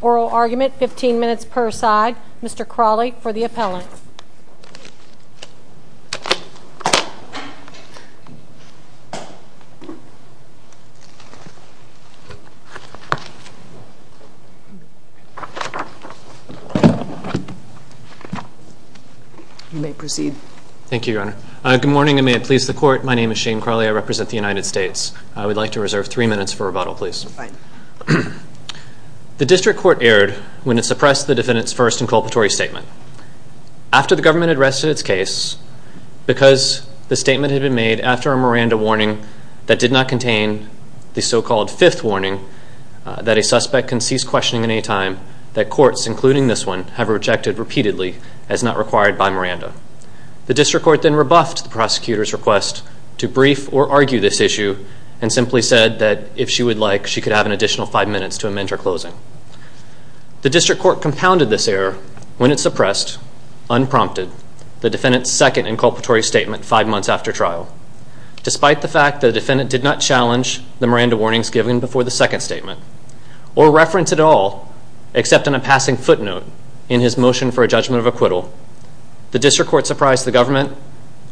Oral argument, 15 minutes per side. Mr. Crawley, for the appellant. You may proceed. Thank you, Your Honor. Good morning. I may please the court. My name is Shane Crawley. I represent the United States. I would like to reserve three minutes for rebuttal, please. The district court erred when it suppressed the defendant's first inculpatory statement. After the government had rested its case, because the statement had been made after a Miranda warning that did not contain the so-called fifth warning that a suspect can cease questioning at any time, that courts, including this one, have rejected repeatedly as not required by Miranda. The district court then rebuffed the prosecutor's request to brief or argue this issue, and simply said that if she would like, she could have an additional five minutes to amend her closing. The district court compounded this error when it suppressed, unprompted, the defendant's second inculpatory statement five months after trial. Despite the fact that the defendant did not challenge the Miranda warnings given before the second statement, or reference at all, except on a passing footnote in his motion for a judgment of acquittal, the district court surprised the government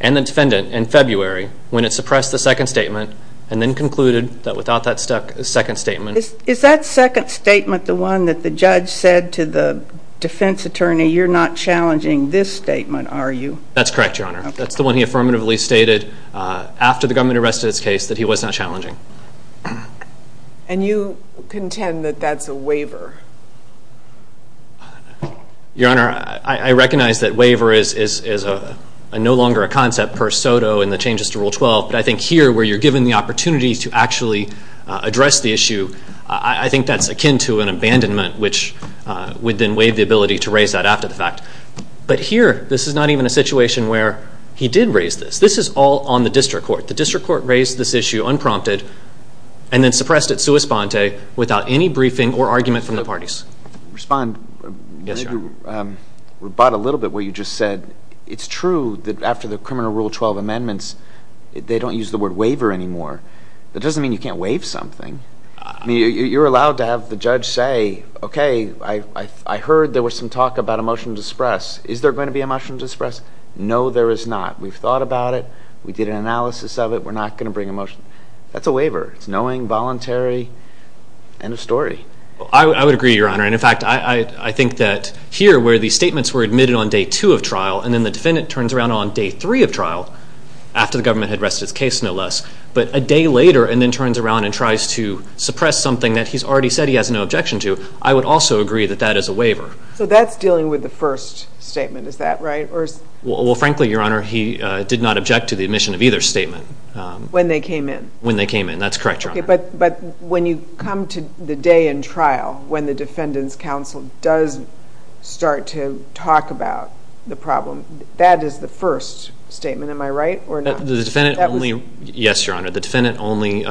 and the defendant in February when it suppressed the second statement, and then concluded that without that second statement... Is that second statement the one that the judge said to the defense attorney, you're not challenging this statement, are you? That's correct, Your Honor. That's the one he affirmatively stated after the government arrested his case, that he was not challenging. And you contend that that's a waiver? Your Honor, I recognize that waiver is no longer a concept per soto in the changes to Rule 12, but I think here, where you're given the opportunity to actually address the issue, I think that's akin to an abandonment, which would then waive the ability to raise that after the fact. But here, this is not even a situation where he did raise this. This is all on the district court. The district court raised this issue unprompted, and then suppressed it sua sponte without any briefing or argument from the parties. Respond. Yes, Your Honor. Rebut a little bit what you just said. It's true that after the criminal Rule 12 amendments, they don't use the word waiver anymore. That doesn't mean you can't waive something. You're allowed to have the judge say, okay, I heard there was some talk about a motion to express. Is there going to be a motion to express? No, there is not. We've thought about it. We did an analysis of it. We're not going to bring a motion. That's a waiver. It's knowing, voluntary, and a story. I would agree, Your Honor. In fact, I think that here, where the statements were admitted on Day 2 of trial, and then the defendant turns around on Day 3 of trial, after the government had rested its case, no less, but a day later, and then turns around and tries to suppress something that he's already said he has no objection to, I would also agree that that is a waiver. So that's dealing with the first statement. Is that right? Well, frankly, Your Honor, he did not object to the admission of either statement. When they came in? When they came in. That's correct, Your Honor. But when you come to the day in trial, when the defendant's counsel does start to talk about the problem, that is the first statement. Am I right or not? The defendant only, yes, Your Honor, the defendant only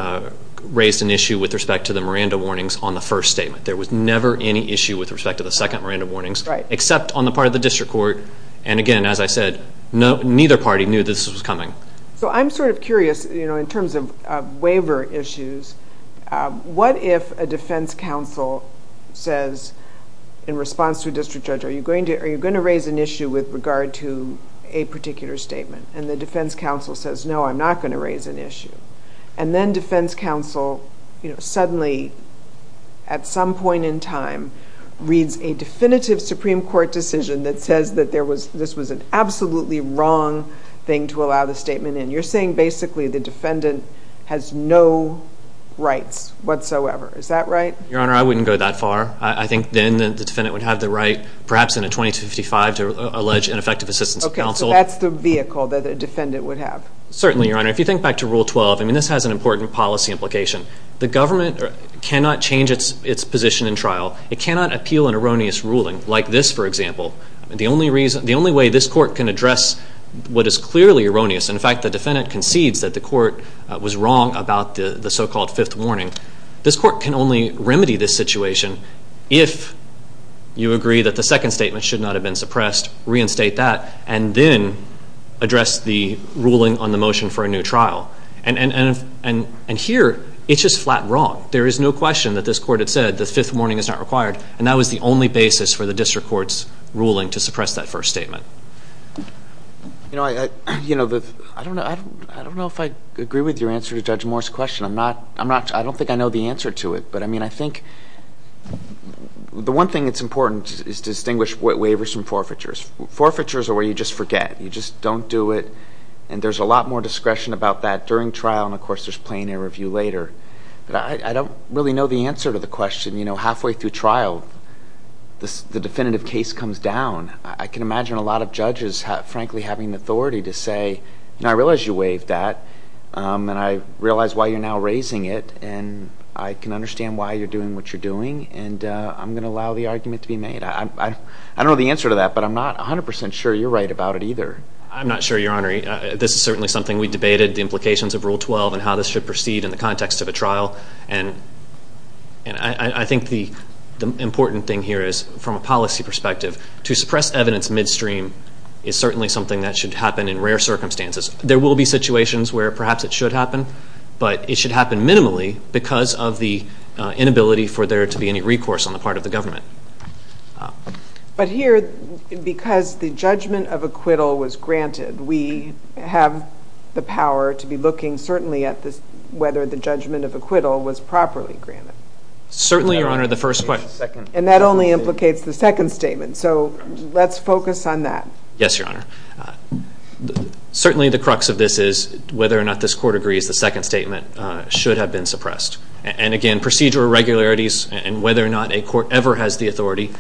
raised an issue with respect to the Miranda warnings on the first statement. There was never any issue with respect to the second Miranda warnings, except on the part of the district court. And again, as I said, neither party knew this was coming. So I'm sort of curious, in terms of waiver issues, what if a defense counsel says in response to a district judge, are you going to raise an issue with regard to a particular statement? And the defense counsel says, no, I'm not going to raise an issue. And then defense counsel suddenly, at some point in time, reads a definitive Supreme Court decision that says that this was an absolutely wrong thing to allow the statement in. You're saying basically the defendant has no rights whatsoever. Is that right? Your Honor, I wouldn't go that far. I think then the defendant would have the right, perhaps in a 20-55, to allege ineffective assistance of counsel. Okay, so that's the vehicle that a defendant would have. Certainly, Your Honor. If you think back to Rule 12, I mean, this has an important policy implication. The government cannot change its position in trial. It cannot appeal an erroneous ruling, like this, for example. The only reason, the only way this court can address what is clearly erroneous, in fact, the defendant concedes that the court was wrong about the so-called fifth warning. This court can only remedy this situation if you agree that the second statement should not have been suppressed, reinstate that, and then address the ruling on the motion for a new trial. And here, it's just flat wrong. There is no question that this court had said the fifth warning is not required. And that was the only basis for the district court's ruling to suppress that first statement. You know, I don't know if I agree with your answer to Judge Moore's question. I don't think I know the answer to it. But I mean, I think the one thing that's important is to distinguish waivers from forfeitures. Forfeitures are where you just forget. You just don't do it. And there's a lot more discretion about that during trial. And of course, there's plenary review later. But I don't really know the answer to the question. You know, halfway through trial, the definitive case comes down. I can imagine a lot of judges, frankly, having the authority to say, you know, I realize you waived that. And I realize why you're now raising it. And I can understand why you're doing what you're doing. And I'm going to allow the argument to be made. I don't know the answer to that. But I'm not 100 percent sure you're right about it either. I'm not sure, Your Honor. This is certainly something we debated, the implications of Rule 12 and how this should proceed in the context of a trial. And I think the important thing here is, from a policy perspective, to suppress evidence midstream is certainly something that should happen in rare circumstances. There will be situations where perhaps it should happen. But it should happen minimally because of the judgment of acquittal was granted. We have the power to be looking certainly at whether the judgment of acquittal was properly granted. Certainly, Your Honor. And that only implicates the second statement. So let's focus on that. Yes, Your Honor. Certainly the crux of this is whether or not this Court agrees the second statement should have been suppressed. And again, procedural irregularities and whether or not a Court ever has the authority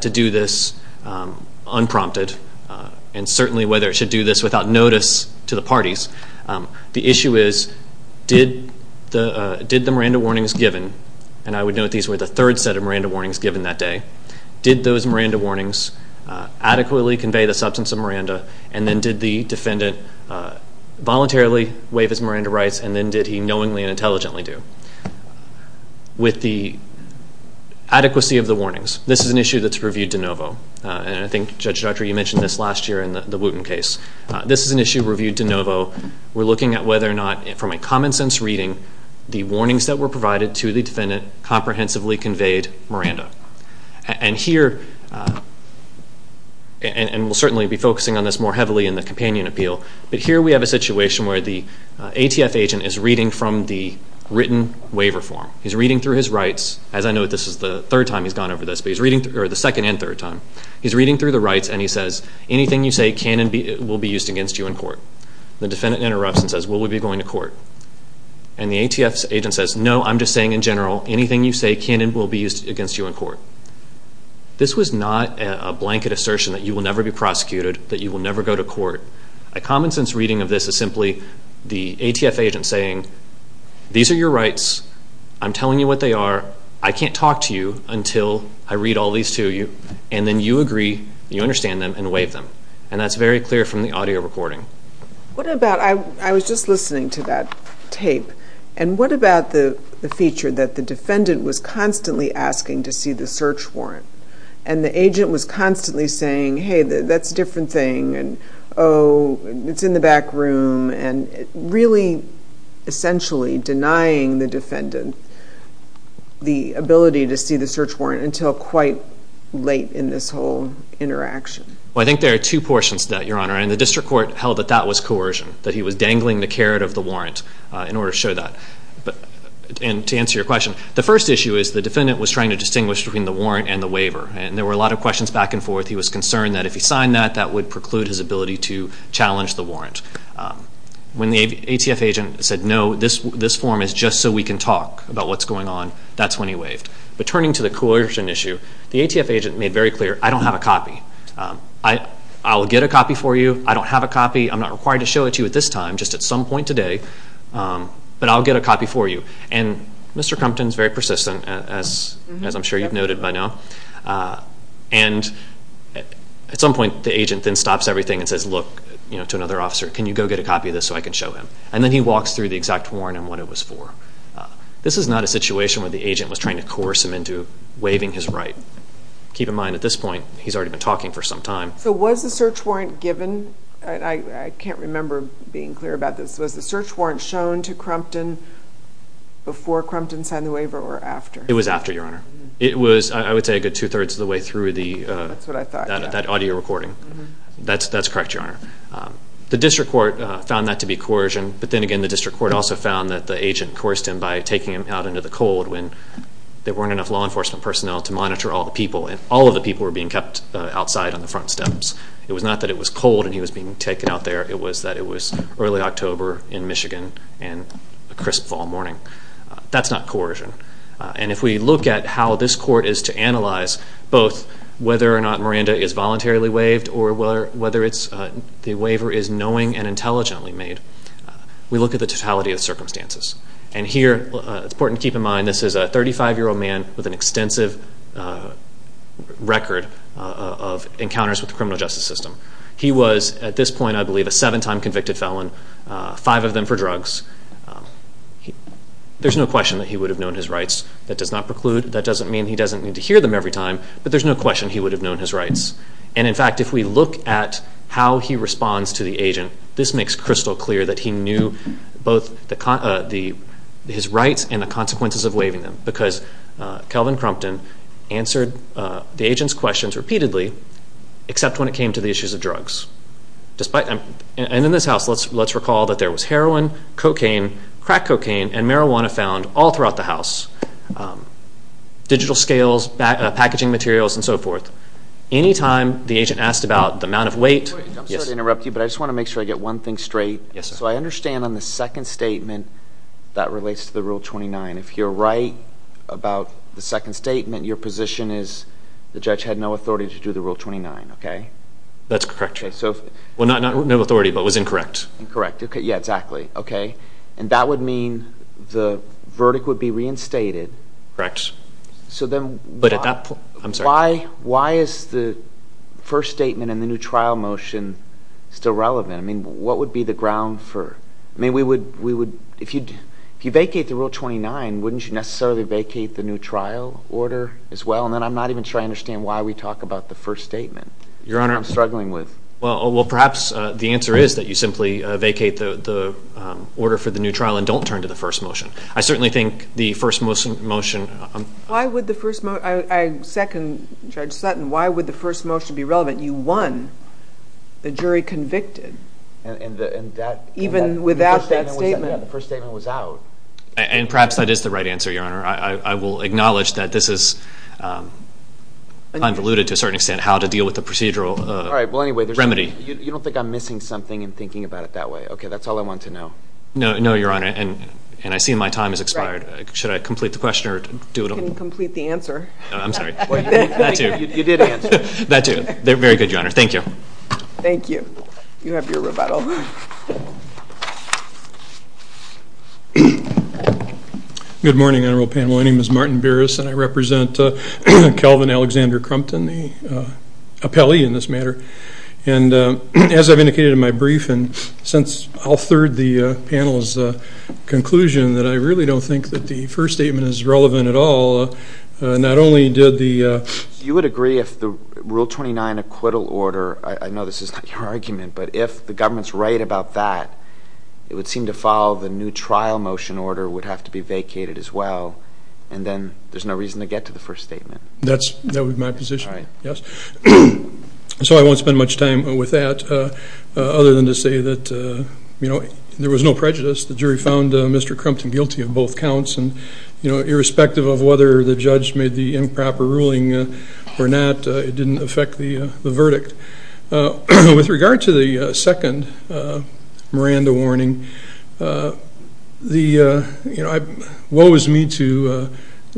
to do this unprompted. And certainly whether it should do this without notice to the parties. The issue is, did the Miranda warnings given, and I would note these were the third set of Miranda warnings given that day, did those Miranda warnings adequately convey the substance of Miranda? And then did the defendant voluntarily waive his Miranda rights? And then did he knowingly and intelligently do? With the adequacy of the warnings, this is an issue that's reviewed de novo. And I think Judge Dr. you mentioned this last year in the Wooten case. This is an issue reviewed de novo. We're looking at whether or not, from a common sense reading, the warnings that were provided to the defendant comprehensively conveyed Miranda. And here and we'll certainly be focusing on this more heavily in the companion appeal. But here we have a situation where the ATF agent is reading from the written waiver form. He's reading through his rights. As I note, this is the third time he's gone over this. But he's reading through the rights and he says, anything you say can and will be used against you in court. The defendant interrupts and says, will we be going to court? And the ATF agent says, no, I'm just saying in general, anything you say can and will be used against you in court. This was not a blanket assertion that you will never be prosecuted, that you will never go to court. A common sense reading of this is simply the ATF agent saying, these are your rights. I'm telling you what they are. I can't talk to you until I read all these to you. And then you agree, you understand them and waive them. And that's very clear from the audio recording. What about, I was just listening to that tape, and what about the feature that the defendant was constantly asking to see the search warrant? And the agent was constantly saying, hey, that's a different thing, and oh, it's in the back room, and really essentially denying the defendant the ability to see the search warrant until quite late in this whole interaction. Well, I think there are two portions to that, Your Honor. And the district court held that that was coercion, that he was dangling the carrot of the warrant in order to show that. And to answer your question, the first issue is the defendant was trying to distinguish between the warrant and the waiver. And there were a lot of questions back and forth. He was concerned that if he signed that, that would preclude his ability to challenge the warrant. When the ATF agent said, no, this form is just so we can talk about what's going on, that's when he waived. But turning to the coercion issue, the ATF agent made very clear, I don't have a copy. I'll get a copy for you. I don't have a copy. I'm not required to show it to you at this time, just at some point today, but I'll get a copy for you. And Mr. Crumpton is very persistent, as I'm sure you've noted by now. And at some point, the agent then stops everything and says, look, to another officer, can you go get a copy of this so I can show him? And then he walks through the exact warrant and what it was for. This is not a situation where the agent was trying to coerce him into waiving his right. Keep in mind, at this point, he's already been talking for some time. So was the search warrant given? I can't remember being clear about this. Was the search warrant shown to Crumpton before Crumpton signed the waiver or after? It was after, Your Honor. It was, I would say, a good two-thirds of the way through that audio recording. That's correct, Your Honor. The district court found that to be coercion. But then again, the district court also found that the agent coerced him by taking him out into the cold when there weren't enough law enforcement personnel to monitor all the people. And all of the people were being kept outside on the front steps. It was not that it was cold and he was being taken out there. It was that it was early October in Michigan and a crisp fall morning. That's not coercion. And if we look at how this court is to analyze both whether or not Miranda is voluntarily waived or whether the waiver is knowing and intelligently made, we look at the totality of circumstances. And here, it's important to keep in mind, this is a 35-year-old man with an extensive record of encounters with the criminal justice system. He was, at this point, I believe, a seven-time convicted felon, five of them for drugs. There's no question that he would have known his rights. That does not preclude, that doesn't mean he doesn't need to hear them every time, but there's no question he would have known his rights. And in fact, if we look at how he responds to the agent, this makes crystal clear that he knew both his rights and the consequences of waiving them. Because Kelvin Crumpton answered the agent's questions repeatedly, except when it came to the issues of drugs. And in this house, let's recall that there was heroin, cocaine, crack cocaine, and marijuana found all throughout the house. Digital scales, packaging materials, and so forth. Any time the agent asked about the amount of weight... I'm sorry to interrupt you, but I just want to make sure I get one thing straight. So I understand on the second statement that relates to the Rule 29. If you're right about the second statement, your position is the judge had no authority to do the Rule 29. That's correct. Well, not no authority, but was incorrect. And that would mean the verdict would be reinstated. Why is the first statement in the new trial motion still relevant? I mean, what would be the ground for... If you vacate the Rule 29, wouldn't you necessarily vacate the new trial order as well? And then I'm not even sure I understand why we talk about the first statement. Well, perhaps the answer is that you simply vacate the order for the new trial and don't turn to the first motion. I certainly think the first motion... I second Judge Sutton. Why would the first motion be relevant? You won. The jury convicted. The first statement was out. And perhaps that is the right answer, Your Honor. I will acknowledge that this is convoluted to a certain extent, how to deal with the procedural remedy. You don't think I'm missing something in thinking about it that way? Okay, that's all I want to know. No, Your Honor. And I see my time has expired. Should I complete the question or do it all? You can complete the answer. I'm sorry. You did answer. Very good, Your Honor. Thank you. Thank you. You have your rebuttal. Good morning, Honorable Panel. My name is Martin Burris, and I represent Calvin Alexander Crumpton, the appellee in this matter. And as I've indicated in my brief, and since I'll third the panel's conclusion that I really don't think that the first statement is relevant at all, not only did the... You would agree if the Rule 29 acquittal order, I know this is not your argument, but if the government's right about that, it would seem to follow the new trial motion order would have to be vacated as well, and then there's no reason to get to the first statement. That would be my position, yes. So I won't spend much time with that other than to say that there was no prejudice. The jury found Mr. Crumpton guilty of both counts, and irrespective of whether the judge made the improper ruling or not, it didn't affect the verdict. With regard to the second Miranda warning, it woes me to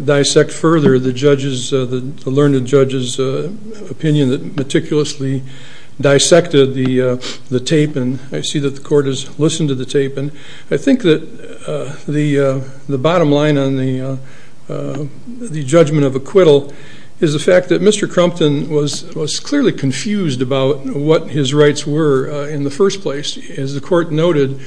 dissect further the learned judge's opinion that meticulously dissected the tape, and I see that the court has listened to the tape. I think that the bottom line on the judgment of acquittal is the fact that Mr. Crumpton was clearly confused about what his rights were in the first place. As the court noted,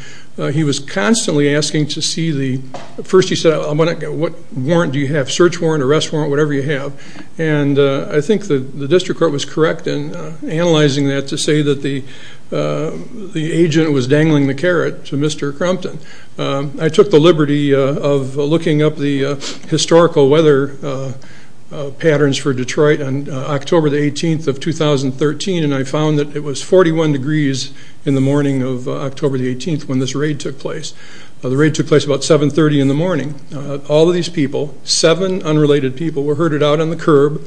he was constantly asking to see the... First he said, what warrant do you have, search warrant, arrest warrant, whatever you have, and I think the district court was correct in analyzing that to say that the agent was dangling the carrot to Mr. Crumpton. I took the liberty of looking up the historical weather patterns for Detroit on October the 18th of 2013, and I found that it was 41 degrees in the morning of October the 18th when this raid took place. The raid took place about 730 in the morning. All of these people, seven unrelated people, were herded out on the curb.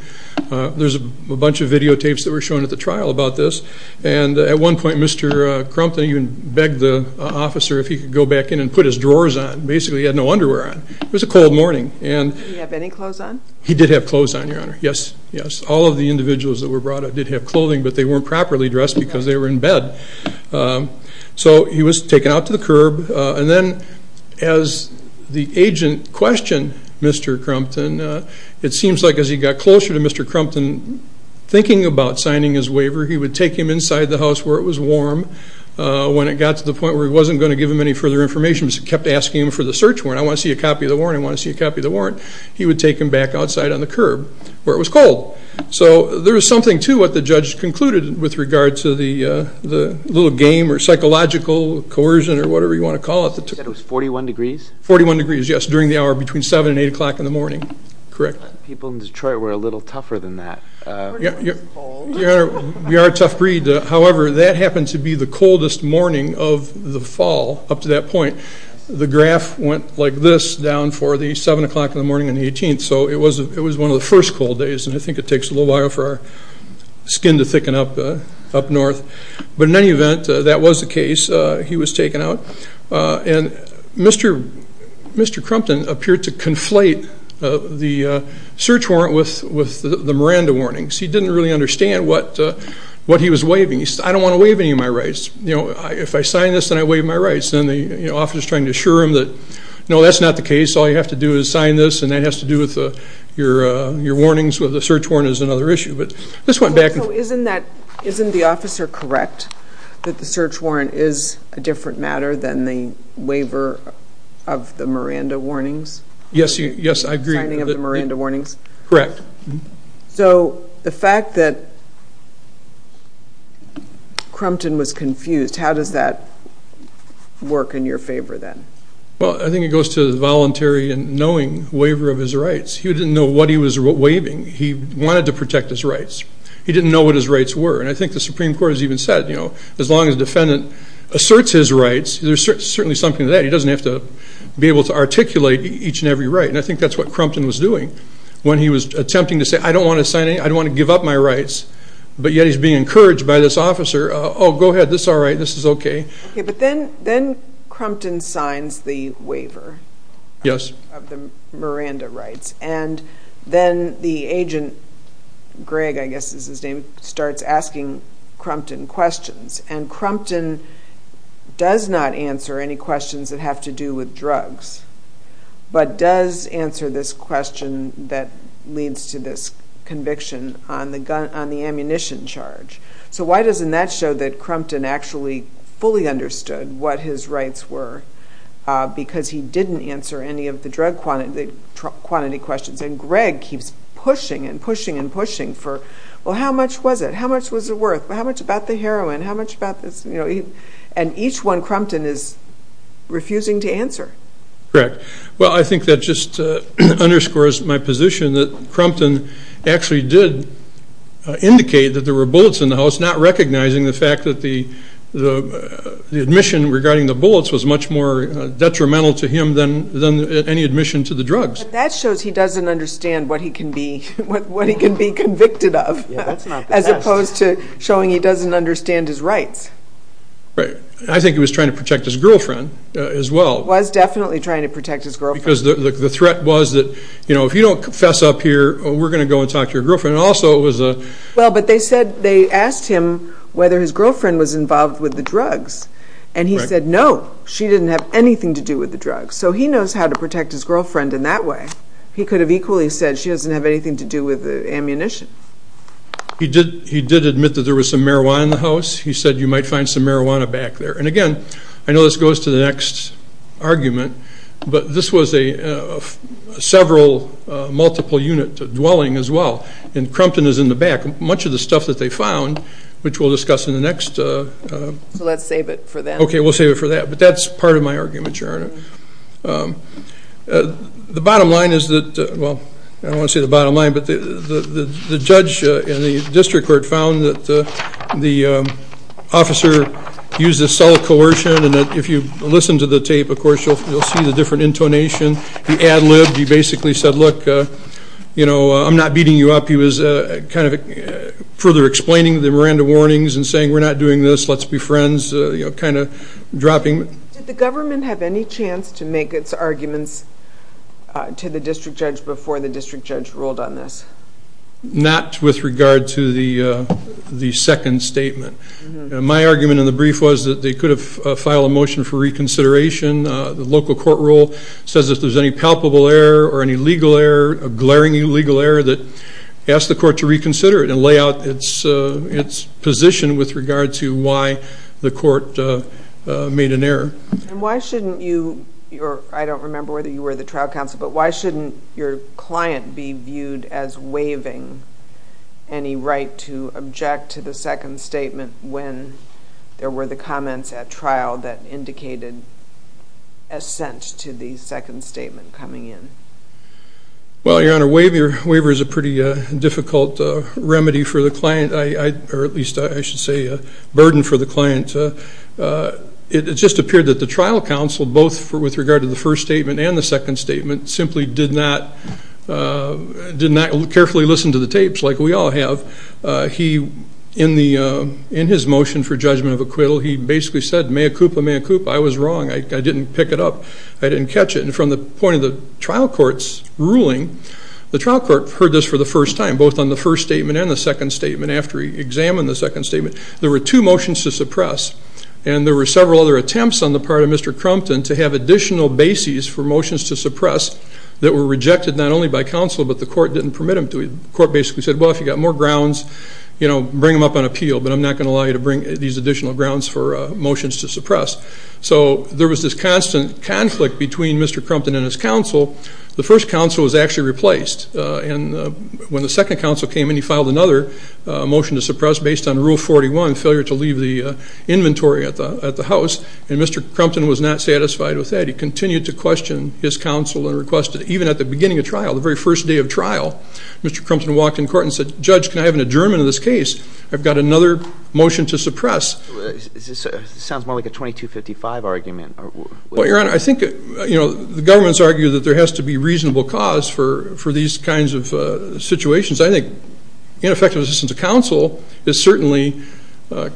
There's a bunch of videotapes that were shown at the trial about this, and at one point Mr. Crumpton even begged the officer if he could go back in and put his drawers on. Basically he had no underwear on. It was a cold morning. He did have clothes on, your honor. Yes, yes. All of the individuals that were brought up did have clothing, but they weren't properly dressed because they were in bed. So he was taken out to the curb, and then as the agent questioned Mr. Crumpton, it seems like as he got closer to Mr. Crumpton, thinking about signing his waiver, he would take him back outside on the curb where it was cold. So there was something to what the judge concluded with regard to the little game or psychological coercion or whatever you want to call it. You said it was 41 degrees? 41 degrees, yes, during the hour between 7 and 8 o'clock in the morning. Correct. People in Detroit were a little tougher than that. We are a tough breed. However, that happened to be the coldest morning of the fall up to that point. The graph went like this down for the 7 o'clock in the morning and the 18th, so it was one of the first cold days, and I think it takes a little while for our skin to thicken up north. But in any event, that was the case. He was taken out. Mr. Crumpton appeared to conflate the search warrant with the Miranda warnings. He didn't really understand what he was waiving. He said, I don't want to waive any of my rights. If I sign this, then I waive my rights. No, that's not the case. All you have to do is sign this, and that has to do with your warnings. The search warrant is another issue. Isn't the officer correct that the search warrant is a different matter than the waiver of the Miranda warnings? Yes, I agree. Correct. So the fact that Crumpton was confused, how does that work in your favor then? Well, I think it goes to the voluntary and knowing waiver of his rights. He didn't know what he was waiving. He wanted to protect his rights. He didn't know what his rights were, and I think the Supreme Court has even said, as long as the defendant asserts his rights, there's certainly something to that. He doesn't have to be able to articulate each and every right, and I think that's what Crumpton was doing. When he was attempting to say, I don't want to sign any, I don't want to give up my rights, but yet he's being encouraged by this officer, oh, go ahead, this is all right, this is okay. But then Crumpton signs the waiver of the Miranda rights, and then the agent, Greg I guess is his name, starts asking Crumpton questions, and Crumpton does not answer any questions that have to do with drugs, but does answer this question that leads to this conviction on the ammunition charge. So why doesn't that show that Crumpton actually fully understood what his rights were, because he didn't answer any of the drug quantity questions, and Greg keeps pushing and pushing and pushing for, well, how much was it, how much was it worth, how much about the heroin, how much about this, and each one Crumpton is refusing to answer. Correct. Well, I think that just underscores my position that Crumpton actually did indicate that there were bullets in the house, not recognizing the fact that the admission regarding the bullets was much more detrimental to him than any admission to the drugs. But that shows he doesn't understand what he can be convicted of, as opposed to showing he doesn't understand his rights. Right. I think he was trying to protect his girlfriend as well. Was definitely trying to protect his girlfriend. Because the threat was that if you don't confess up here, we're going to go and talk to your girlfriend. Also, it was a... Well, but they said, they asked him whether his girlfriend was involved with the drugs, and he said no, she didn't have anything to do with the drugs. So he knows how to protect his girlfriend in that way. He could have equally said she doesn't have anything to do with the ammunition. He did admit that there was some marijuana in the house. He said you might find some marijuana back there. And again, I know this goes to the next argument, but this was a several multiple unit dwelling as well. And Crumpton is in the back. Much of the stuff that they found, which we'll discuss in the next... So let's save it for that. Okay, we'll save it for that. But that's part of my argument, Your Honor. The bottom line is that, well, I don't want to say the bottom line, but the judge in the court said that there was some coercion, and if you listen to the tape, of course, you'll see the different intonation. He ad-libbed. He basically said, look, I'm not beating you up. He was kind of further explaining the Miranda warnings and saying we're not doing this, let's be friends, kind of dropping... Did the government have any chance to make its arguments to the district judge before the district judge ruled on this? Not with regard to the second statement. My argument in the brief was that they could have filed a motion for reconsideration. The local court rule says if there's any palpable error or any legal error, a glaringly legal error, that ask the court to reconsider it and lay out its position with regard to why the court made an error. And why shouldn't you... I don't remember whether you were the trial counsel, but why shouldn't your client be viewed as waiving any right to object to the second statement when there were the comments at trial that indicated assent to the second statement coming in? Well, Your Honor, waiver is a pretty difficult remedy for the client, or at least I should say a burden for the client. It just appeared that the trial counsel, both with regard to the first statement and the second statement, simply did not carefully listen to the tapes like we all have. He, in his motion for judgment of acquittal, he basically said, mea culpa, mea culpa, I was wrong, I didn't pick it up, I didn't catch it. And from the point of the trial court's ruling, the trial court heard this for the first time, both on the first statement and the second statement, after he examined the second statement. There were two motions to suppress, and there were several other attempts on the part of Mr. Crumpton to have additional bases for motions to suppress that were rejected not only by counsel, but the court didn't permit them to. The court basically said, well, if you've got more grounds, bring them up on appeal, but I'm not going to allow you to bring these additional grounds for motions to suppress. So there was this constant conflict between Mr. Crumpton and his counsel. The first counsel was actually replaced, and when the second counsel came in, he filed another motion to suppress based on Rule 41, failure to leave the inventory at the house, and Mr. Crumpton was not satisfied with that. He continued to question his counsel and requested, even at the beginning of trial, the very first day of trial, Mr. Crumpton walked in court and said, Judge, can I have an adjournment of this case? I've got another motion to suppress. This sounds more like a 2255 argument. Well, Your Honor, I think the government's argued that there has to be reasonable cause for these kinds of situations. I think ineffective assistance of counsel is certainly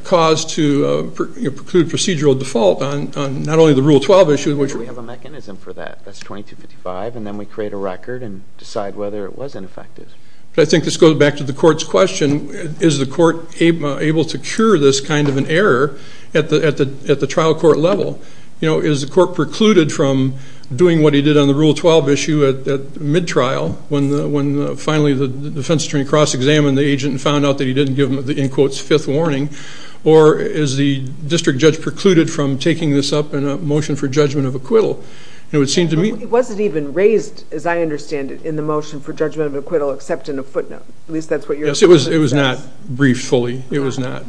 cause to preclude procedural default on not only the Rule 12 issue, but we have a mechanism for that. That's 2255, and then we create a record and decide whether it was ineffective. But I think this goes back to the court's question, is the court able to cure this kind of an error at the trial court level? Is the court precluded from doing what he did on the Rule 12 issue at mid-trial, when finally the defense attorney cross-examined the agent and found out that he didn't give him the, in quotes, fifth warning? Or is the district judge precluded from taking this up in a motion for judgment of acquittal? It wasn't even raised, as I understand it, in the motion for judgment of acquittal except in a footnote. At least that's what your assessment is. Yes, it was not briefed fully. It was not.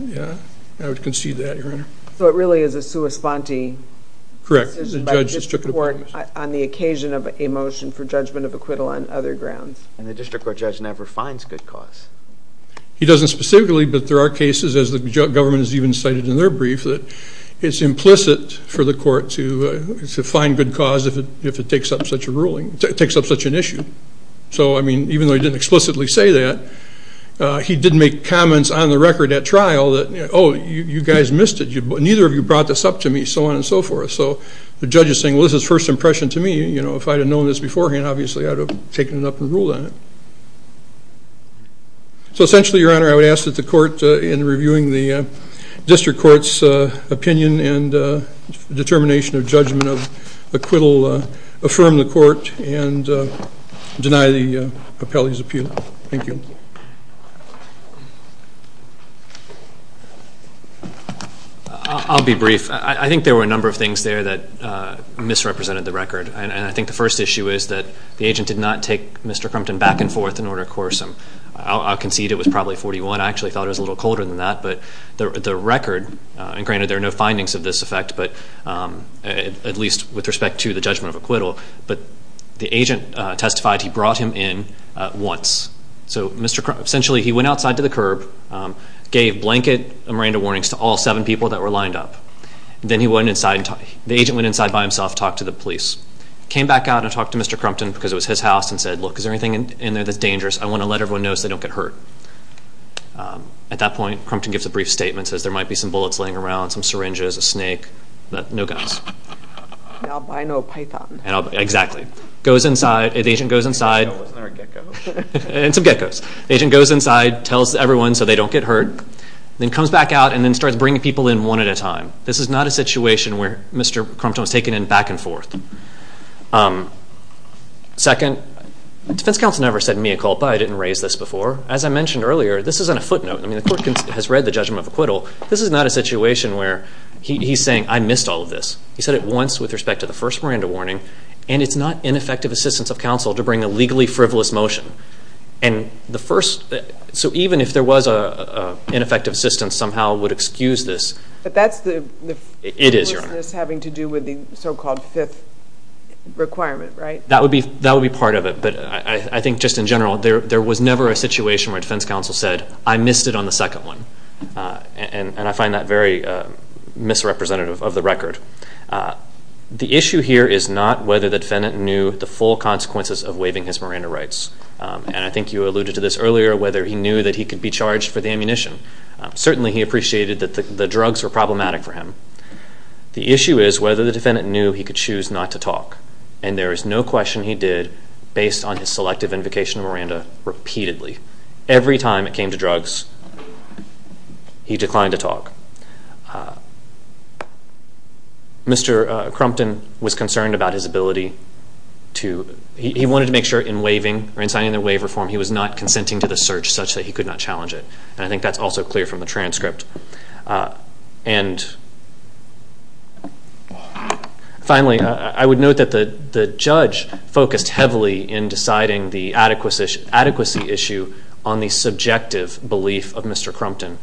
I would concede that, Your Honor. So it really is a sua sponte decision by the district court on the occasion of a motion for judgment of acquittal on other grounds. And the district court judge never finds good cause. He doesn't specifically, but there are cases, as the government has even cited in their brief, that it's implicit for the court to find good cause if it takes up such an issue. So, I mean, even though he didn't explicitly say that, he did make comments on the record at trial that, oh, you guys missed it. Neither of you brought this up to me, so on and so forth. So the judge is saying, well, this is first impression to me. If I had known this beforehand, obviously I would have taken it up and ruled on it. So essentially, Your Honor, I would ask that the court, in reviewing the district court's opinion and determination of judgment of acquittal, affirm the court and deny the appellee's appeal. Thank you. I'll be brief. I think there were a number of things there that went forth in order to coerce him. I'll concede it was probably 41. I actually thought it was a little colder than that, but the record, and granted there are no findings of this effect, but at least with respect to the judgment of acquittal, but the agent testified he brought him in once. So Mr. Crumpton, essentially he went outside to the curb, gave blanket Miranda warnings to all seven people that were lined up. Then he went inside, the agent went inside by himself and talked to the police. Came back out and talked to Mr. Crumpton because it was his house and said, look, is there anything in there that's dangerous? I want to let everyone know so they don't get hurt. At that point, Crumpton gives a brief statement and says there might be some bullets laying around, some syringes, a snake, but no guns. Albino python. Exactly. Goes inside, the agent goes inside. And some geckos. The agent goes inside, tells everyone so they don't get hurt, then comes back out and starts bringing people in one at a time. This is not a situation where Mr. Crumpton was taken in back and forth. Second, defense counsel never said mea culpa. I didn't raise this before. As I mentioned earlier, this is on a footnote. The court has read the judgment of acquittal. This is not a situation where he's saying, I missed all of this. He said it once with respect to the first Miranda warning. And it's not ineffective assistance of counsel to bring a legally frivolous motion. And the first, so even if there was an ineffective assistance somehow would excuse this. But that's the frivolousness having to do with the so-called fifth requirement, right? That would be part of it, but I think just in general there was never a situation where defense counsel said, I missed it on the second one. And I find that very misrepresentative of the record. The issue here is not whether the defendant knew the full consequences of waiving his Miranda rights. And I think you alluded to this earlier, whether he knew that he could be charged for the ammunition. Certainly he appreciated that the drugs were problematic for him. The issue is whether the defendant knew he could choose not to talk. And there is no question he did based on his selective invocation of Miranda repeatedly. Every time it came to drugs he declined to talk. Mr. Crumpton was concerned about his ability to, he wanted to make sure in waiving or in signing the waiver form he was not consenting to the search such that he could not challenge it. And I think that's also clear from the transcript. And finally, I would note that the judge focused heavily in deciding the adequacy issue on the subjective belief of Mr. Crumpton.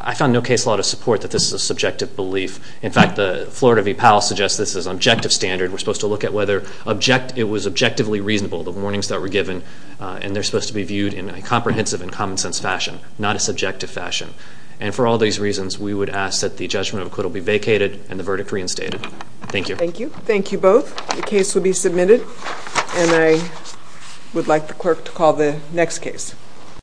I found no case law to support that this is a subjective belief. In fact, the Florida v. Powell suggests this is an objective standard. We're supposed to look at whether it was objectively reasonable, the warnings that were given, and they're supposed to be viewed in a comprehensive and common sense fashion, not a subjective fashion. And for all these reasons, we would ask that the judgment of acquittal be vacated and the verdict reinstated. Thank you. Thank you. Thank you both. The case will be submitted and I would like the clerk to call the next case.